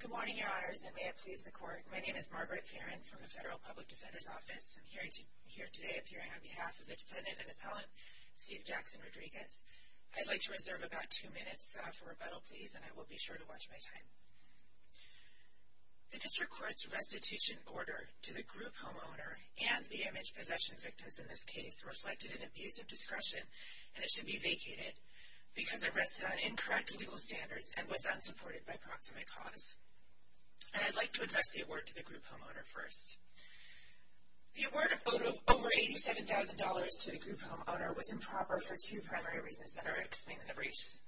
Good morning, Your Honors, and may it please the Court, my name is Margaret Farron from the Federal Public Defender's Office. I'm here today appearing on behalf of the defendant and appellant, Steve Jackson Rodriguez. I'd like to reserve about two minutes for rebuttal, please, and I will be sure to watch my time. The District Court's restitution order to the group homeowner and the image possession victims in this case reflected an abuse of discretion and it should be vacated because it rested on incorrect legal standards and was unsupported by proximate cause. And I'd like to address the award to the group homeowner first. The award of over $87,000 to the group homeowner was improper for two primary reasons that are explained in the briefs.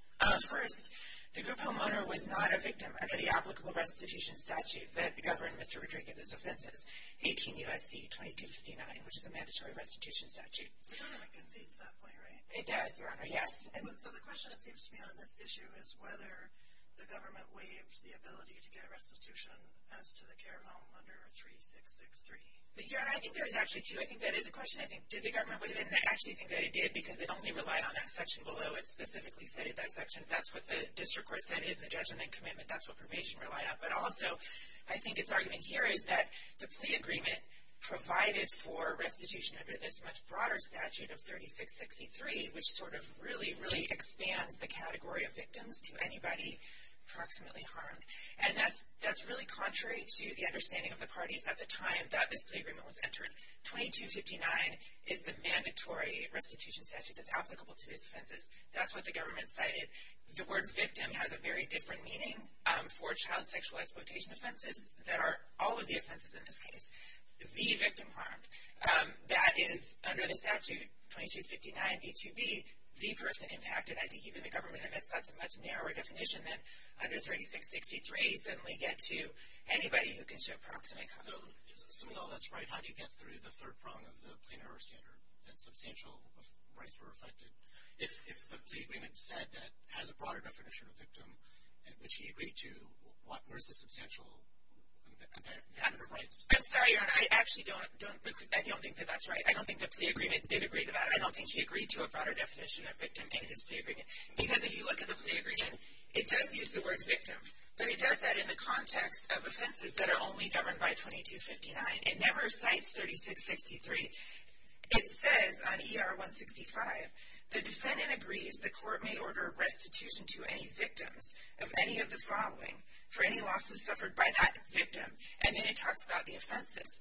First, the group homeowner was not a victim under the 18 U.S.C. 2259, which is a mandatory restitution statute. The government concedes to that point, right? It does, Your Honor, yes. So the question, it seems to me, on this issue is whether the government waived the ability to get restitution as to the care home under 3663. Your Honor, I think there is actually two. I think that is a question, I think, did the government waive it? And I actually think that it did because it only relied on that section below. It specifically stated that section. That's what the District Court said in the judgment and commitment. That's what permission relied on. But also, I think its plea agreement provided for restitution under this much broader statute of 3663, which sort of really, really expands the category of victims to anybody approximately harmed. And that's really contrary to the understanding of the parties at the time that this plea agreement was entered. 2259 is the mandatory restitution statute that's applicable to these offenses. That's what the government cited. The word victim has a very different meaning for child sexual exploitation offenses that are all of the offenses in this case. The victim harmed. That is, under the statute, 2259B2B, the person impacted. I think even the government admits that's a much narrower definition than under 3663. You suddenly get to anybody who can show proximate cause. So, assuming all that's right, how do you get through the third prong of the plain error standard that substantial rights were affected? If the plea agreement said that has a broader definition of victim, which he agreed to, what was the substantial amount of rights? I'm sorry, Aaron. I actually don't think that that's right. I don't think the plea agreement did agree to that. I don't think he agreed to a broader definition of victim in his plea agreement. Because if you look at the plea agreement, it does use the word victim. But it does that in the context of offenses that are only governed by 2259. It never cites 3663. It says on ER 165, the defendant agrees the court may order restitution to any victims of any of the following for any losses suffered by that victim. And then it talks about the offenses.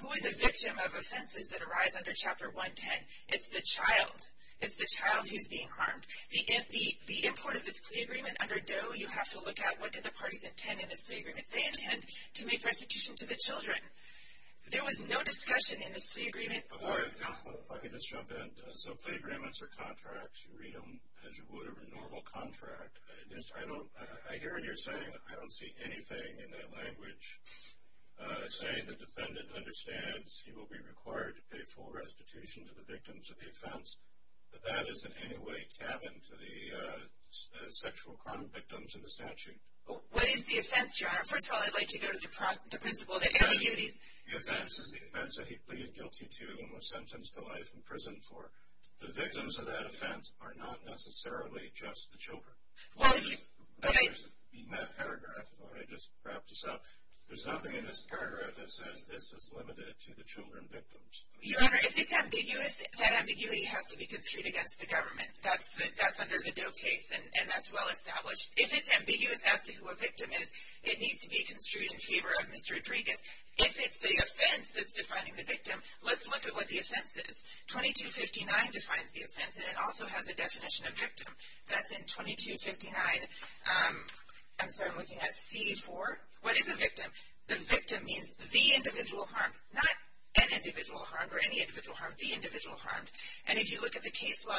Who is a victim of offenses that arise under Chapter 110? It's the child. It's the child who's being harmed. The import of this plea agreement under Doe, you have to look at what do the parties intend in this plea agreement. They intend to make restitution to the children. There was no discussion in this plea agreement. All right. If I could just jump in. So plea agreements are contracts. You read them as you would a normal contract. I hear what you're saying. I don't see anything in that language saying the defendant understands he will be required to pay full restitution to the victims of the offense. But that is in any way tabbed into the sexual crime victims in the statute. What is the offense, Your Honor? First of all, I'd like to go to the principle of the ambiguities. The offense is the offense that he pleaded guilty to and was sentenced to life in prison for. The victims of that offense are not necessarily just the children. In that paragraph, let me just wrap this up. There's nothing in this paragraph that says this is limited to the children victims. Your Honor, if it's ambiguous, that ambiguity has to be construed against the government. That's under the Doe case, and that's well established. If it's ambiguous as to who a victim is, it needs to be construed in favor of Mr. Rodriguez. If it's the offense that's defining the victim, let's look at what the offense is. 2259 defines the offense, and it also has a definition of victim. That's in 2259. I'm sorry. I'm looking at CD4. What is a victim? The victim means the individual harmed. Not an individual harmed or any individual harmed. The individual harmed. And if you look at the case law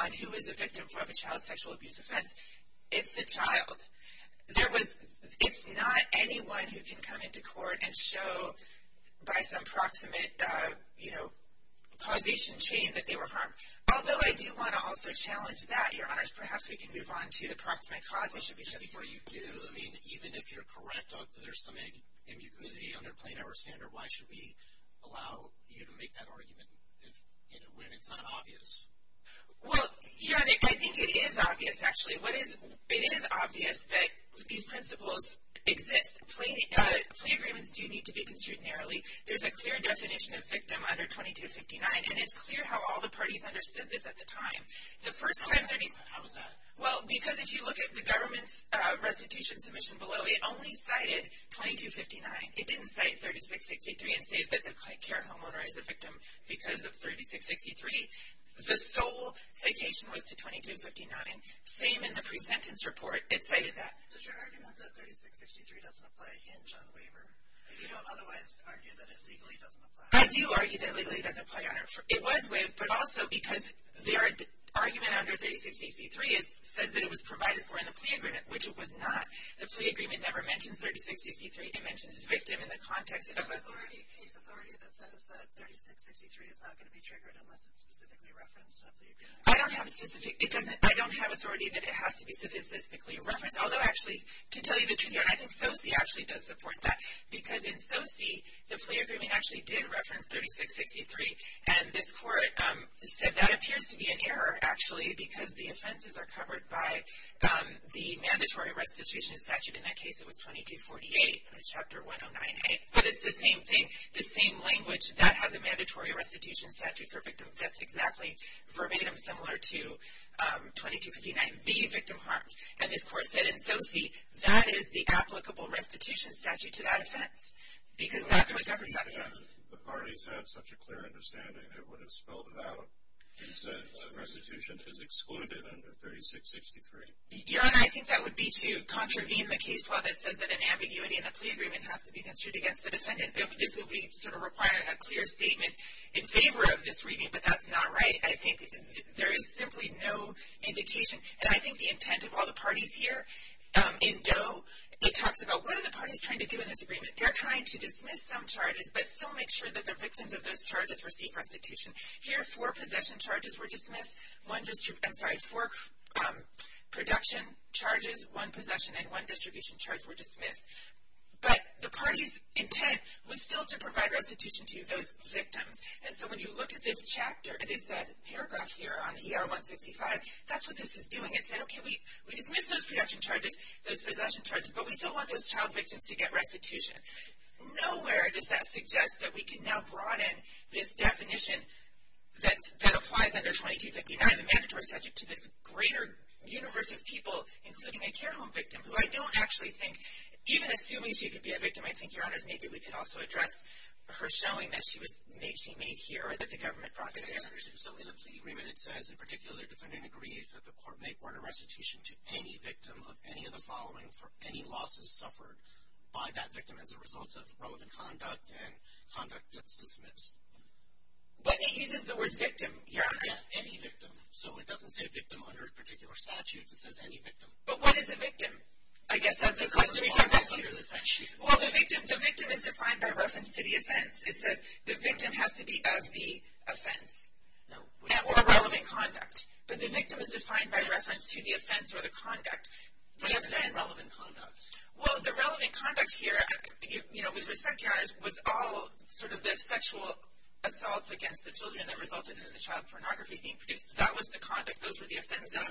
on who is a victim of a child sexual abuse offense, it's the child. It's not anyone who can come into court and show by some proximate causation chain that they were harmed. Although, I do want to also challenge that, Your Honors. Perhaps we can move on to the proximate cause. It should be just before you do. I mean, even if you're correct, there's some ambiguity under the plain error standard. Why should we allow you to make that argument when it's not obvious? Well, Your Honor, I think it is obvious, actually. It is obvious that these principles exist. Plea agreements do need to be construed narrowly. There's a clear definition of victim under 2259, and it's clear how all the parties understood this at the time. How was that? Well, because if you look at the government's restitution submission below, it only cited 2259. It didn't cite 3663 and say that the child care homeowner is a victim because of 3663. The sole citation was to 2259. Same in the pre-sentence report. It cited that. Does your argument that 3663 doesn't apply hinge on the waiver? If you don't otherwise argue that it legally doesn't apply? I do argue that legally it doesn't apply, Your Honor. It was waived, but also because the argument under 3663 says that it was provided for in the plea agreement, which it was not. The plea agreement never mentions 3663. It mentions victim in the context of a- Is there any case authority that says that 3663 is not going to be triggered unless it's specifically referenced in a plea agreement? I don't have specific- I don't have authority that it has to be specifically referenced, although actually, to tell you the truth, Your Honor, I think SOCI actually does support that because in SOCI, the plea agreement actually did reference 3663, and this court said that appears to be an error, actually, because the offenses are covered by the mandatory restitution statute. In that case, it was 2248, Chapter 109A, but it's the same thing, the same language. That has a mandatory restitution statute for victim offense, exactly verbatim, similar to 2259, the victim harmed. And this court said in SOCI, that is the applicable restitution statute to that offense because that's what governs that offense. The parties had such a clear understanding, it would have spelled it out, restitution is excluded under 3663. Your Honor, I think that would be to contravene the case law that says that an ambiguity in a plea agreement has to be construed against the defendant. This would be sort of requiring a clear statement in favor of this reading, but that's not right. I think there is simply no indication, and I think the intent of all the parties here in Doe, it talks about what are the parties trying to do in this agreement? They're trying to dismiss some charges, but still make sure that the victims of those charges receive restitution. Here, four possession charges were dismissed. I'm sorry, four production charges, one possession, and one distribution charge were dismissed. But the party's intent was still to provide restitution to those victims. And so when you look at this paragraph here on ER 165, that's what this is doing. It said, okay, we dismissed those possession charges, but we still want those child victims to get restitution. Nowhere does that suggest that we that applies under 2259. The manager was subject to this greater universe of people, including a care home victim, who I don't actually think, even assuming she could be a victim, I think, your honors, maybe we could also address her showing that she was made here, that the government brought her here. So in the plea agreement, it says, in particular, the defendant agrees that the court may order restitution to any victim of any of the following for any losses suffered by that victim as a result of relevant conduct and conduct that's dismissed. But it uses the word victim, your honor. Any victim. So it doesn't say a victim under particular statutes. It says any victim. But what is a victim? I guess that's the question. It's a law under the statutes. Well, the victim is defined by reference to the offense. It says the victim has to be of the offense or relevant conduct. But the victim is defined by reference to the offense or the conduct. What is the relevant conduct? Well, the relevant conduct here, you know, with respect, your honors, was all sort of the sexual assaults against the children that resulted in the child pornography being produced. That was the conduct. Those were the offenses.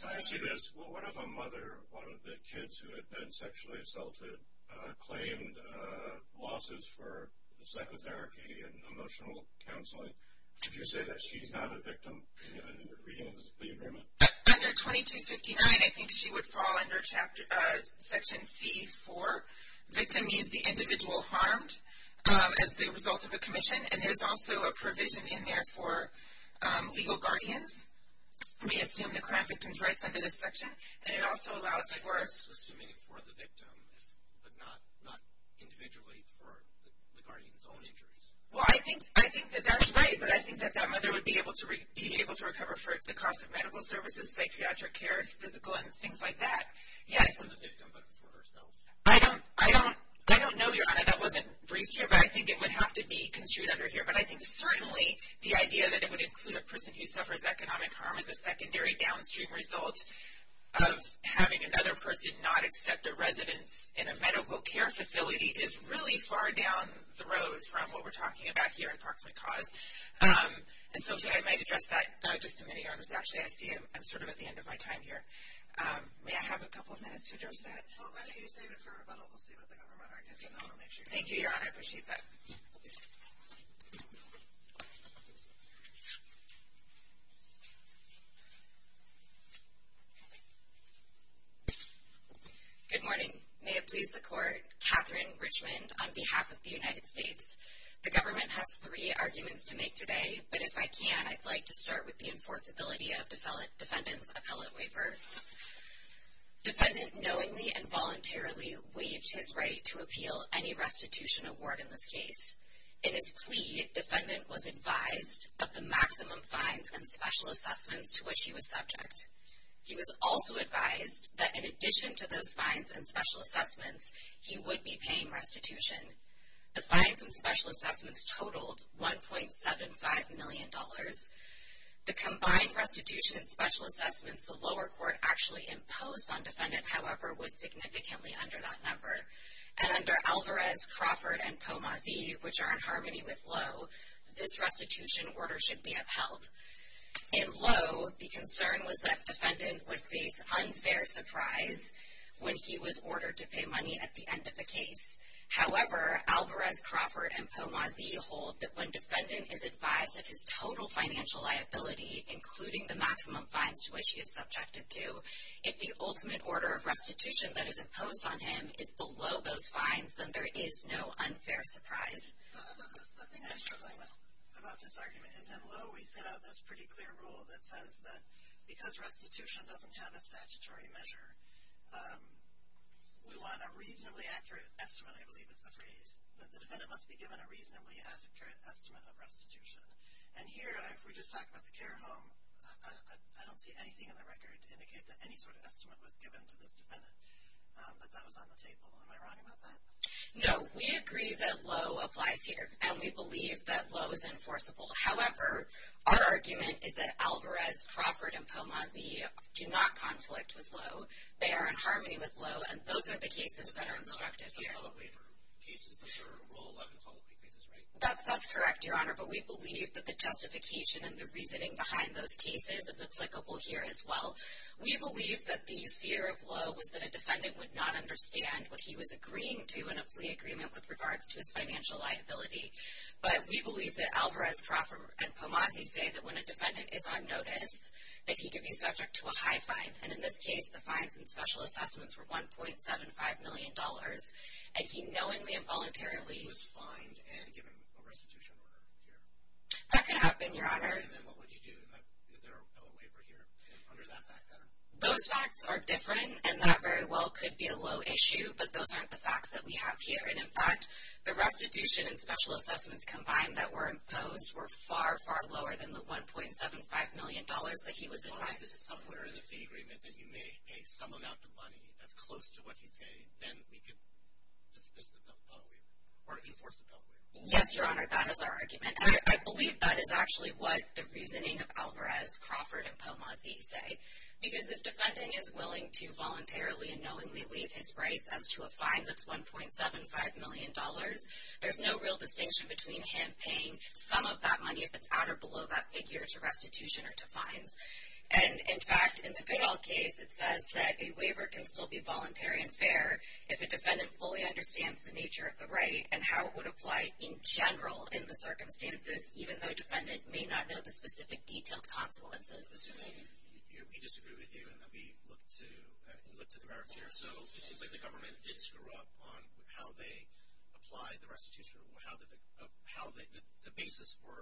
Can I ask you this? What if a mother of one of the kids who had been sexually assaulted claimed losses for psychotherapy and emotional counseling? Could you say that she's not a victim in the plea agreement? Under 2259, I think she would fall under section C4. Victim means the individual harmed as the result of a commission. And there's also a provision in there for legal guardians. We assume the crime victim's rights under this section. And it also allows for... So assuming for the victim, but not individually for the guardian's own injuries. Well, I think that that's right. But I think that that mother would be able to recover for the cost of medical services, psychiatric care, physical, and things like that. Yes. Not for the victim, but for herself. I don't know, your honor, that wasn't briefed here. But I think it would have to be construed under here. But I think certainly the idea that it would include a person who suffers economic harm as a secondary downstream result of having another person not accept a residence in a medical care facility is really far down the road from what we're talking about here approximate cause. And so if I might address that just a minute, your honors. Actually, I see I'm sort of at the end of my time here. May I have a couple of minutes to address that? Well, why don't you save it for rebuttal? We'll see what the government argues. And then we'll make sure you're done. Thank you, your honor. I appreciate that. Good morning. May it please the court. Catherine Richmond on behalf of the United States. The government has three arguments to make today. But if I can, I'd like to start with the enforceability of defendant's appellate waiver. Defendant knowingly and voluntarily waived his right to appeal any restitution award in this case. In his plea, defendant was advised of the maximum fines and special assessments to which he was subject. He was also advised that in addition to those fines and special assessments, he would be paying restitution. The fines and special assessments totaled $1.75 million. The combined restitution and special assessments the lower court actually imposed on defendant, however, was significantly under that number. And under Alvarez, Crawford, and Pomazi, which are in harmony with Lowe, this restitution order should be upheld. In Lowe, the concern was that defendant would face unfair surprise when he was ordered to pay money at the end of the case. However, Alvarez, Crawford, and Pomazi hold that when defendant is advised of his total financial liability, including the maximum fines to which he is subjected to, if the ultimate order of restitution that is imposed on him is below those fines, then there is no unfair surprise. The thing I'm struggling with about this argument is in Lowe, we set out this pretty clear rule that says that because restitution doesn't have a statutory measure, we want a reasonably accurate estimate, I believe is the phrase, that the defendant must be given a reasonably accurate estimate of restitution. And here, if we just talk about the care home, I don't see anything in the record to indicate that any sort of estimate was given to this defendant, but that was on the table. Am I wrong about that? No, we agree that Lowe applies here, and we believe that Lowe is enforceable. However, our argument is that Alvarez, Crawford, and Pomazi do not conflict with Lowe. They are in harmony with Lowe, and those are the cases that are instructive here. They're not bailout waiver cases. Those are Rule 11 follow-up cases, right? That's correct, Your Honor, but we believe that the justification and the reasoning behind those cases is applicable here as well. We believe that the fear of Lowe was that a defendant would not understand what he was agreeing to in a plea agreement with regards to his financial liability. But we believe that Alvarez, Crawford, and Pomazi say that when a defendant is on notice, that he could be subject to a high fine. And in this case, the fines and special assessments were $1.75 million. And he knowingly and voluntarily- He was fined and given a restitution order here. That could happen, Your Honor. And then what would you do? Is there a bailout waiver here under that fact pattern? Those facts are different, and that very well could be a low issue, but those aren't the facts that we have here. And in fact, the restitution and special assessments combined that were imposed were far, far lower than the $1.75 million that he was advised- If this is somewhere in the agreement that you may pay some amount of money that's close to what he's paying, then we could dismiss the bailout waiver, or enforce the bailout waiver. Yes, Your Honor, that is our argument. And I believe that is actually what the reasoning of Alvarez, Crawford, and Pomazi say. Because if defending is willing to voluntarily and knowingly waive his rights as to a fine that's $1.75 million, there's no real distinction between him paying some of that money, if it's at or below that figure, to restitution or to fines. And in fact, in the Goodall case, it says that a waiver can still be voluntary and fair if a defendant fully understands the nature of the right and how it would apply in general in the circumstances, even though a defendant may not know the specific detailed consequences. Mr. Laney, we disagree with you, and we look to the merits here. So it seems like the government did screw up on how they apply the restitution, how the basis for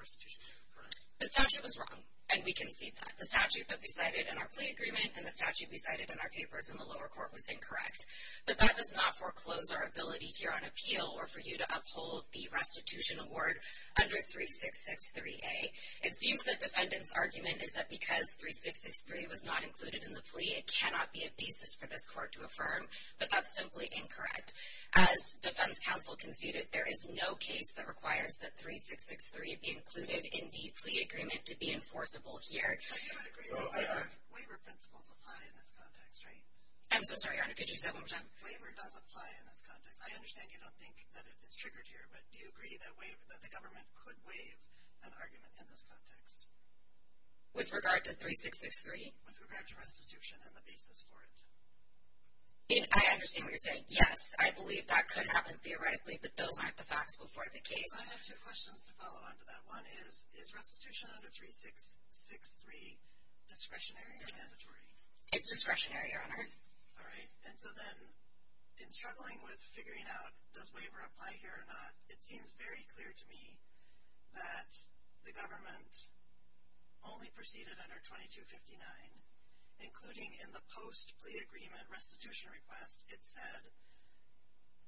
restitution, correct? The statute was wrong, and we concede that. The statute that we cited in our plea agreement and the statute we cited in our papers in the lower court was incorrect. But that does not foreclose our ability here on appeal or for you to uphold the restitution award under 3663A. It seems that defendant's argument is that because 3663 was not included in the plea, it cannot be a basis for this court to affirm. But that's simply incorrect. As defense counsel conceded, there is no case that requires that 3663 be included in the plea agreement to be enforceable here. But you would agree that waiver principles apply in this context, right? I'm so sorry, Your Honor, could you say that one more time? Waiver does apply in this context. I understand you don't think that it is triggered here, but do you agree that the government could waive an argument in this context? With regard to 3663? With regard to restitution and the basis for it. I understand what you're saying. Yes, I believe that could happen theoretically, but those aren't the facts before the case. I have two questions to follow on to that. One is, is restitution under 3663 discretionary or mandatory? It's discretionary, Your Honor. All right. And so then, in struggling with figuring out does waiver apply here or not, it seems very clear to me that the government only proceeded under 2259, including in the post-plea agreement restitution request, it said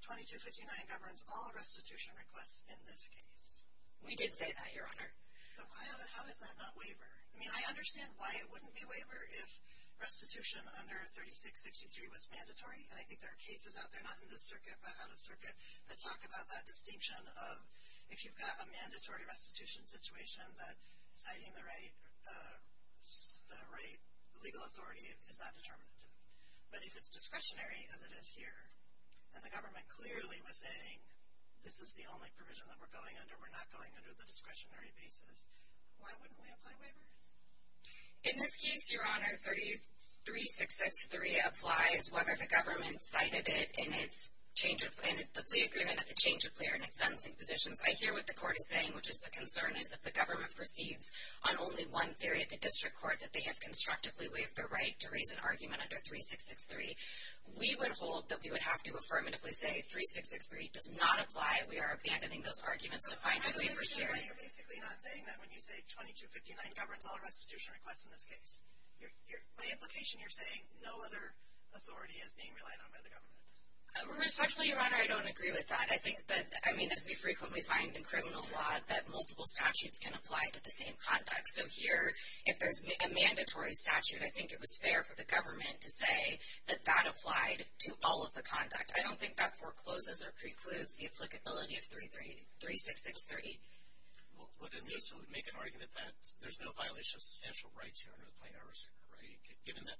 2259 governs all restitution requests in this case. We did say that, Your Honor. So how is that not waiver? I mean, I understand why it wouldn't be waiver if restitution under 3663 was mandatory. And I think there are cases out there, not in this circuit, but out of circuit, that talk about that distinction of if you've got a mandatory restitution situation, that citing the right legal authority is not determinative. But if it's discretionary, as it is here, and the government clearly was saying, this is the only provision that we're going under, we're not going under the discretionary basis, why wouldn't we apply waiver? In this case, Your Honor, 3663 applies whether the government cited it in its change of, in the plea agreement, if the change of plea or in its sentencing positions. I hear what the court is saying, which is the concern is if the government proceeds on only one theory at the district court, that they have constructively waived their right to raise an argument under 3663. We would hold that we would have to affirmatively say 3663 does not apply. We are abandoning those arguments to find a waiver here. So I understand why you're basically not saying that when you say 2259 governs all restitution requests in this case. By implication, you're saying no other authority is being relied on by the government. Respectfully, Your Honor, I don't agree with that. I think that, I mean, as we frequently find in criminal law, that multiple statutes can apply to the same conduct. So here, if there's a mandatory statute, I think it was fair for the government to say that that applied to all of the conduct. I don't think that forecloses or precludes the applicability of 3663. Well, but in this, it would make an argument that there's no violation of substantial rights here under the Plain Iris Act, right? Given that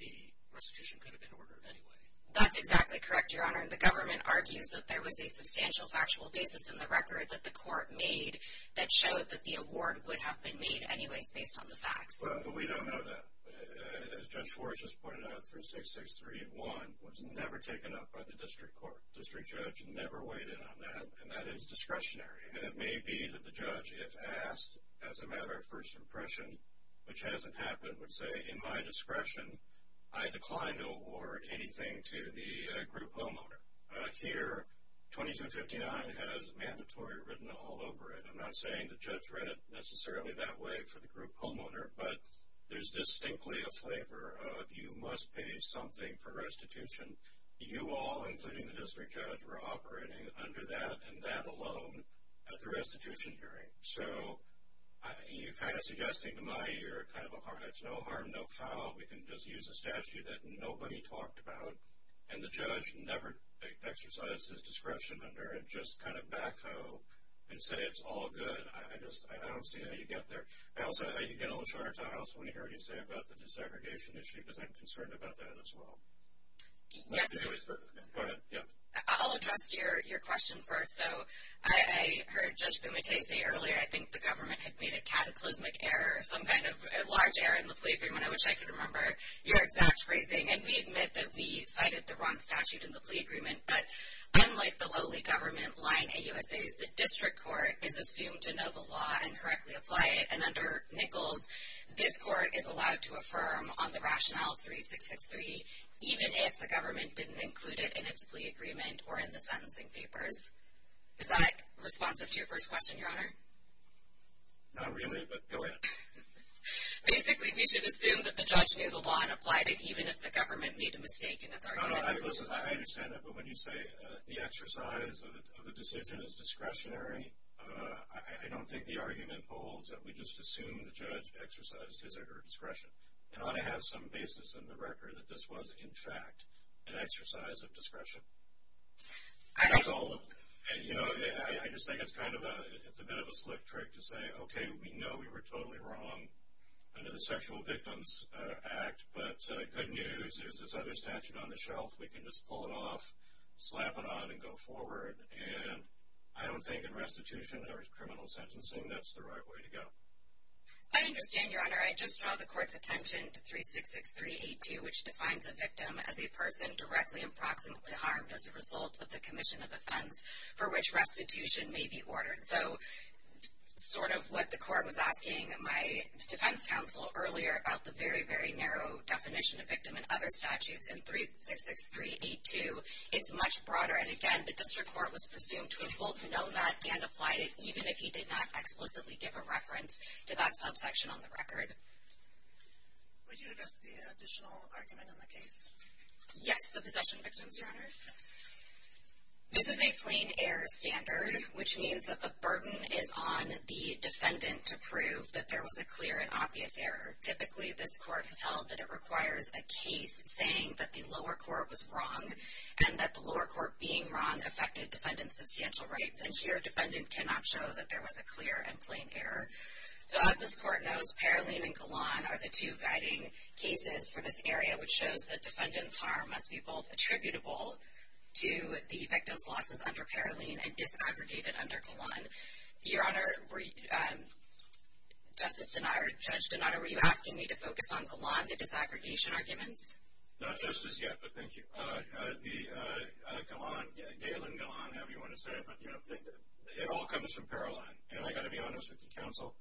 the restitution could have been ordered anyway. That's exactly correct, Your Honor. The government argues that there was a substantial factual basis in the record that the court made that showed that the award would have been made anyways based on the facts. Well, but we don't know that. As Judge Schwartz just pointed out, 3663.1 was never taken up by the district court. District judge never weighed in on that. And that is discretionary. And it may be that the judge, if asked, as a matter of first impression, which hasn't happened, would say, in my discretion, I decline to award anything to the group homeowner. Here, 2259 has mandatory written all over it. I'm not saying the judge read it necessarily that way for the group homeowner. But there's distinctly a flavor of you must pay something for restitution. You all, including the district judge, were operating under that and that alone at the restitution hearing. So you're kind of suggesting to me you're kind of a harness. No harm, no foul. We can just use a statute that nobody talked about. And the judge never exercised his discretion under it. Just kind of backhoe and say, it's all good. I just, I don't see how you get there. I also, you get a little shorter time. I also want to hear what you say about the desegregation issue. Because I'm concerned about that as well. Yes. Go ahead, yep. I'll address your question first. So I heard Judge Bumate say earlier, I think the government had made a cataclysmic error, some kind of a large error in the plea agreement. I wish I could remember your exact phrasing. And we admit that we cited the wrong statute in the plea agreement. But unlike the lowly government line AUSAs, the district court is assumed to know the law and correctly apply it. And under Nichols, this court is allowed to affirm on the rationale 3663, even if the government didn't include it in its plea agreement or in the sentencing papers. Is that responsive to your first question, Your Honor? Not really, but go ahead. Basically, we should assume that the judge knew the law and applied it, even if the government made a mistake in its argument. No, no, I understand that. But when you say the exercise of a decision is discretionary, I don't think the argument holds that we just assume the judge exercised his or her discretion. It ought to have some basis in the record that this was, in fact, an exercise of discretion. I don't. That's all of it. And you know, I just think it's kind of a, it's a bit of a slick trick to say, OK, we know we were totally wrong under the Sexual Victims Act. But good news, there's this other statute on the shelf. We can just pull it off, slap it on, and go forward. And I don't think in restitution there is criminal sentencing. That's the right way to go. I understand, Your Honor. I just draw the court's attention to 366382, which defines a victim as a person directly and proximately harmed as a result of the commission of offense for which restitution may be ordered. So sort of what the court was asking my defense counsel earlier about the very, very narrow definition of victim in other statutes in 366382 is much broader. And again, the district court was presumed to have both known that and applied it, even if he did not explicitly give a reference to that subsection on the record. Would you address the additional argument in the case? Yes, the possession of victims, Your Honor. This is a plain error standard, which means that the burden is on the defendant to prove that there was a clear and obvious error. Typically, this court has held that it requires a case saying that the lower court was wrong and that the lower court being wrong affected defendant's substantial rights. And here, defendant cannot show that there was a clear and plain error. So as this court knows, Paroline and Golan are the two guiding cases for this area, which shows that defendant's harm must be both attributable to the victim's losses under Paroline and disaggregated under Golan. Your Honor, Justice Donato, Judge Donato, were you asking me to focus on Golan, the disaggregation arguments? Not just as yet, but thank you. Golan, Galen Golan, however you want to say it, but it all comes from Paroline. And I got to be honest with you, counsel,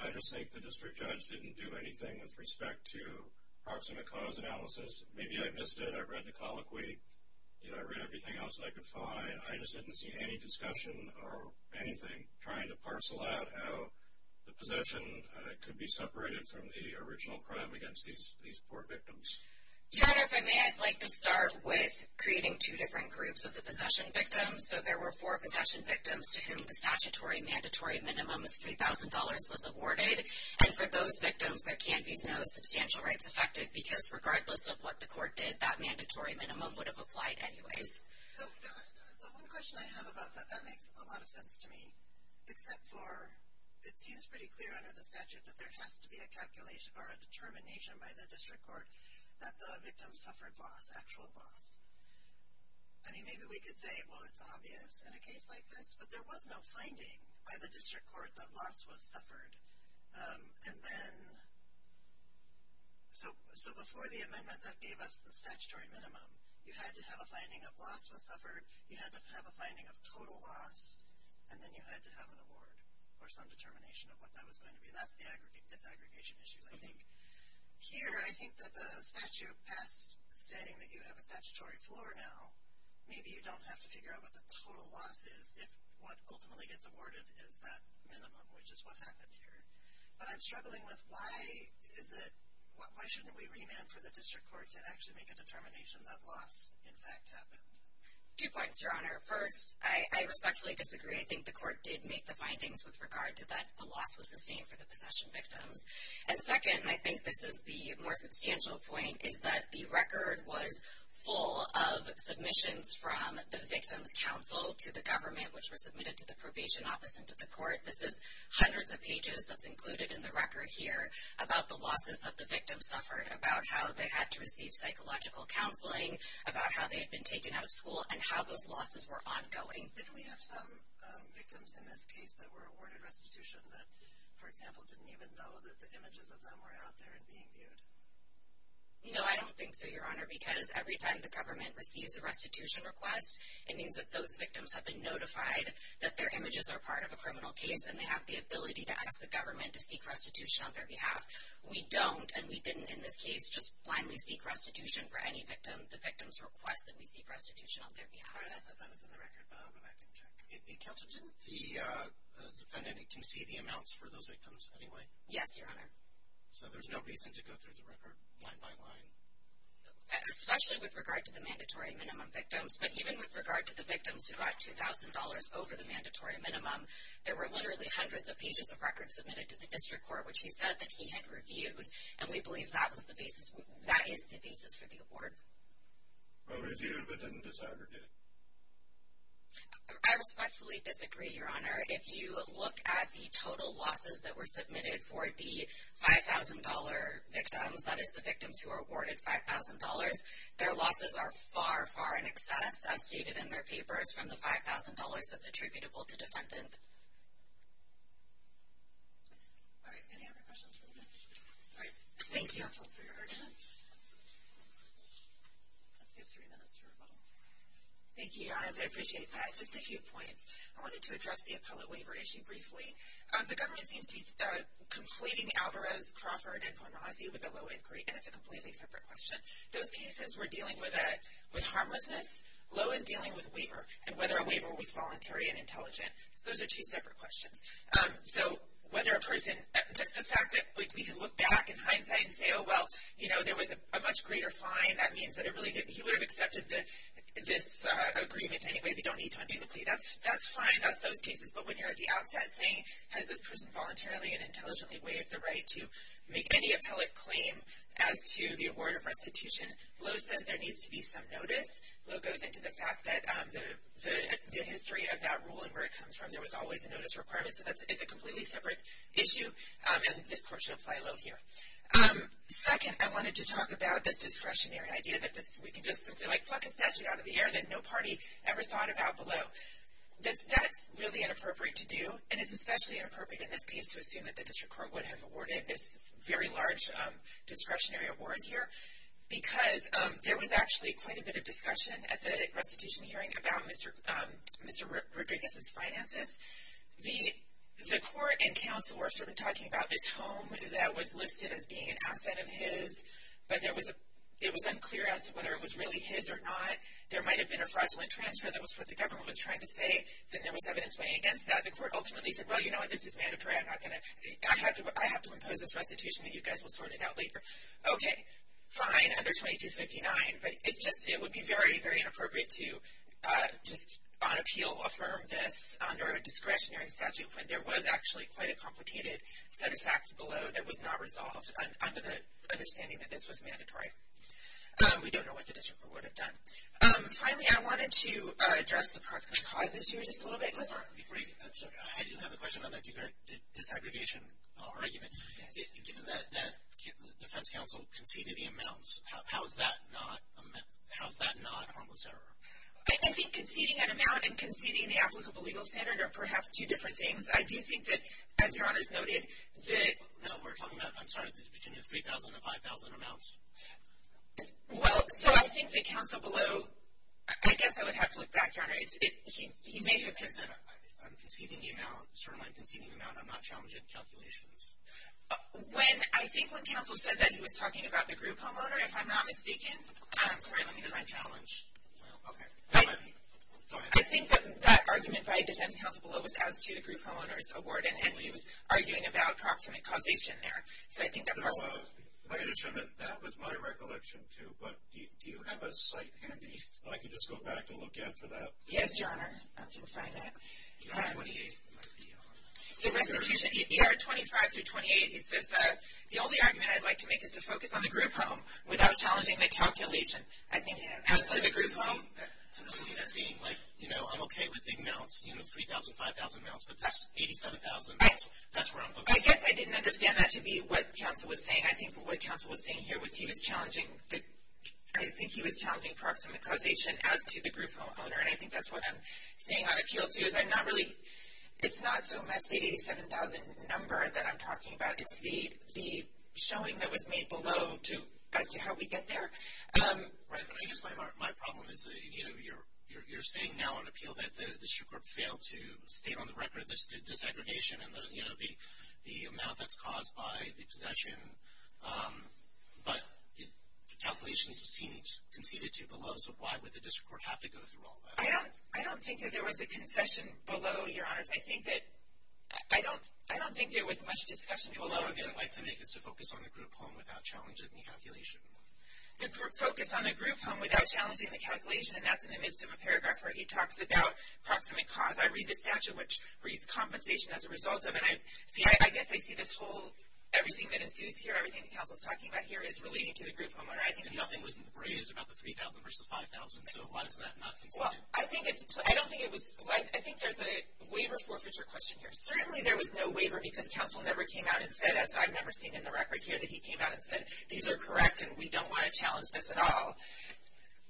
I just think the district judge didn't do anything with respect to proximate cause analysis. Maybe I missed it. I read the colloquy. I read everything else that I could find. I just didn't see any discussion or anything trying to parcel out how the possession could be separated from the original crime against these four victims. Your Honor, if I may, I'd like to start with creating two different groups of the possession victims. So there were four possession victims to whom the statutory mandatory minimum of $3,000 was awarded. And for those victims, there can be no substantial rights affected, because regardless of what the court did, that mandatory minimum would have applied anyways. So one question I have about that, that makes a lot of sense to me, except for it seems pretty clear under the statute that there has to be a calculation or a determination by the district court that the victim suffered loss, actual loss. I mean, maybe we could say, well, it's obvious in a case like this, but there was no finding by the district court that loss was suffered. And then, so before the amendment that gave us the statutory minimum, you had to have a finding of loss was suffered. You had to have a finding of total loss. And then you had to have an award or some determination of what that was going to be. And that's the disaggregation issues, I think. Here, I think that the statute passed saying that you have a statutory floor now. Maybe you don't have to figure out what the total loss is if what ultimately gets awarded is that minimum, which is what happened here. But I'm struggling with why is it, why shouldn't we remand for the district court to actually make a determination that loss, in fact, happened? Two points, Your Honor. First, I respectfully disagree. I think the court did make the findings with regard to that a loss was sustained for the possession victims. And second, I think this is the more substantial point, is that the record was full of submissions from the victim's counsel to the government, which were submitted to the probation office and to the court. This is hundreds of pages that's included in the record here about the losses that the victims suffered, about how they had to receive psychological counseling, about how they had been taken out of school, and how those losses were ongoing. Didn't we have some victims in this case that were awarded restitution that, for example, didn't even know that the images of them were out there and being viewed? No, I don't think so, Your Honor. Because every time the government receives a restitution request, it means that those victims have been notified that their images are part of a criminal case, and they have the ability to ask the government to seek restitution on their behalf. We don't, and we didn't in this case just blindly seek restitution for any victim. The victims request that we seek restitution on their behalf. All right, I thought that was in the record, but I'll go back and check. Counsel, didn't the defendant concede the amounts for those victims anyway? Yes, Your Honor. So there's no reason to go through the record line by line? Especially with regard to the mandatory minimum victims. But even with regard to the victims who got $2,000 over the mandatory minimum, there were literally hundreds of pages of records submitted to the district court, which he said that he had reviewed. And we believe that was the basis, that is the basis for the award. But was he able to decide or did he? I respectfully disagree, Your Honor. If you look at the total losses that were submitted for the $5,000 victims, that is the victims who were awarded $5,000, their losses are far, far in excess, as stated in their papers, from the $5,000 that's attributable to defendant. All right, any other questions for the witness? All right, thank you, counsel, for your argument. Let's give three minutes for rebuttal. Thank you, Your Honor, I appreciate that. Just a few points. I wanted to address the appellate waiver issue briefly. The government seems to be completing Alvarez, Crawford, and Ponrasi with a low inquiry, and it's a completely separate question. Those cases were dealing with harmlessness, low is dealing with waiver, and whether a waiver was voluntary and intelligent. Those are two separate questions. So whether a person, just the fact that we can look back in hindsight and say, oh, well, you know, there was a much greater fine, that means that he would have accepted this agreement anyway. They don't need to undo the plea. That's fine. That's those cases. But when you're at the outset saying, has this person voluntarily and intelligently waived the right to make any appellate claim as to the award of restitution? Low says there needs to be some notice. Low goes into the fact that the history of that rule and where it comes from, there was always a notice requirement. So it's a completely separate issue, and this court should apply low here. Second, I wanted to talk about this discretionary idea that we can just simply like pluck a statute out of the air that no party ever thought about below. That's really inappropriate to do, and it's especially inappropriate in this case to assume that the district court would have awarded this very large discretionary award here, because there was actually quite a bit of discussion at the restitution hearing about Mr. Rodriguez's finances. The court and counsel were sort of talking about this home that was listed as being an asset of his, but it was unclear as to whether it was really his or not. There might have been a fraudulent transfer. That was what the government was trying to say. Then there was evidence weighing against that. The court ultimately said, well, you know what? This is mandatory. I have to impose this restitution, and you guys will sort it out later. Okay, fine, under 2259, but it's just, it would be very, very inappropriate to just on appeal affirm this under a discretionary statute when there was actually quite a complicated set of facts below that was not resolved under the understanding that this was mandatory. We don't know what the district court would have done. Finally, I wanted to address the proximate cause issue just a little bit. I'm sorry, I do have a question on that disaggregation argument. Given that the defense counsel conceded the amounts, how is that not a harmless error? I think conceding an amount and conceding the applicable legal standard are perhaps two different things. I do think that, as your honors noted, that No, we're talking about, I'm sorry, between the 3,000 and 5,000 amounts. Well, so I think the counsel below, I guess I would have to look back, your honor. He may have just said, I'm conceding the amount, certainly conceding the amount, I'm not challenging calculations. I think when counsel said that, he was talking about the group homeowner, if I'm not mistaken. I'm sorry, let me just. It's not a challenge. I think that argument by defense counsel below was as to the group homeowner's award, and he was arguing about proximate causation there. So I think that proximate I can attribute that with my recollection too, but do you have a cite handy? I could just go back to look after that. Yes, your honor. I can find that. The restitution, ER 25 through 28, it says that the only argument I'd like to make is to focus on the group home without challenging the calculation. I think as to the group home. Yeah, that's what I was saying. Like, you know, I'm okay with big amounts, you know, 3,000, 5,000 amounts, but that's 87,000, that's where I'm focused. I guess I didn't understand that to be what counsel was saying. I think what counsel was saying here was he was challenging, I think he was challenging proximate causation as to the group homeowner. I think that's what I'm saying on appeal too, is I'm not really, it's not so much the 87,000 number that I'm talking about. It's the showing that was made below as to how we get there. Right, but I guess my problem is, you know, you're saying now on appeal that the district court failed to state on the record this disaggregation and the, you know, the amount that's caused by the possession, but the calculations seemed conceded to below. So why would the district court have to go through all that? I don't think that there was a concession below, your honors. I think that, I don't, I don't think there was much discussion below. What I would like to make is to focus on the group home without challenging the calculation. The group, focus on the group home without challenging the calculation, and that's in the midst of a paragraph where he talks about proximate cause. I read the statute, which reads compensation as a result of, and I, see, I guess I see this whole, everything that ensues here, everything that counsel's talking about here is relating to the group homeowner. I think. Nothing was raised about the 3,000 versus 5,000, so why is that not conceded? I think it's, I don't think it was, I think there's a waiver forfeiture question here. Certainly there was no waiver because counsel never came out and said, as I've never seen in the record here, that he came out and said these are correct and we don't want to challenge this at all.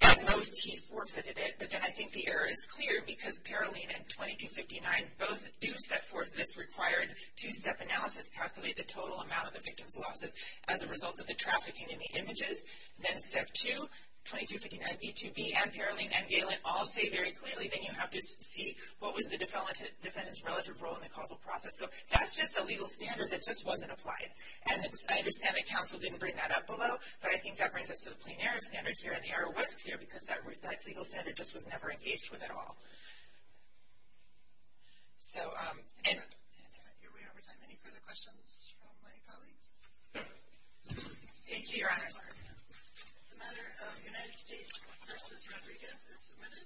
At most he forfeited it, but then I think the error is clear because Paroline and 2259 both do set forth this required two-step analysis, calculate the total amount of the victim's losses as a result of the trafficking in the images. Then step two, 2259b, 2b, and Paroline and Galen all say very clearly that you have to see what was the defendant's relative role in the causal process. So that's just a legal standard that just wasn't applied. And I understand that counsel didn't bring that up below, but I think that brings us to the plain error standard here, and the error was clear because that legal standard just was never engaged with at all. So, and. Here we are over time. Any further questions from my colleagues? Thank you, Your Honor. The matter of United States v. Rodriguez is submitted.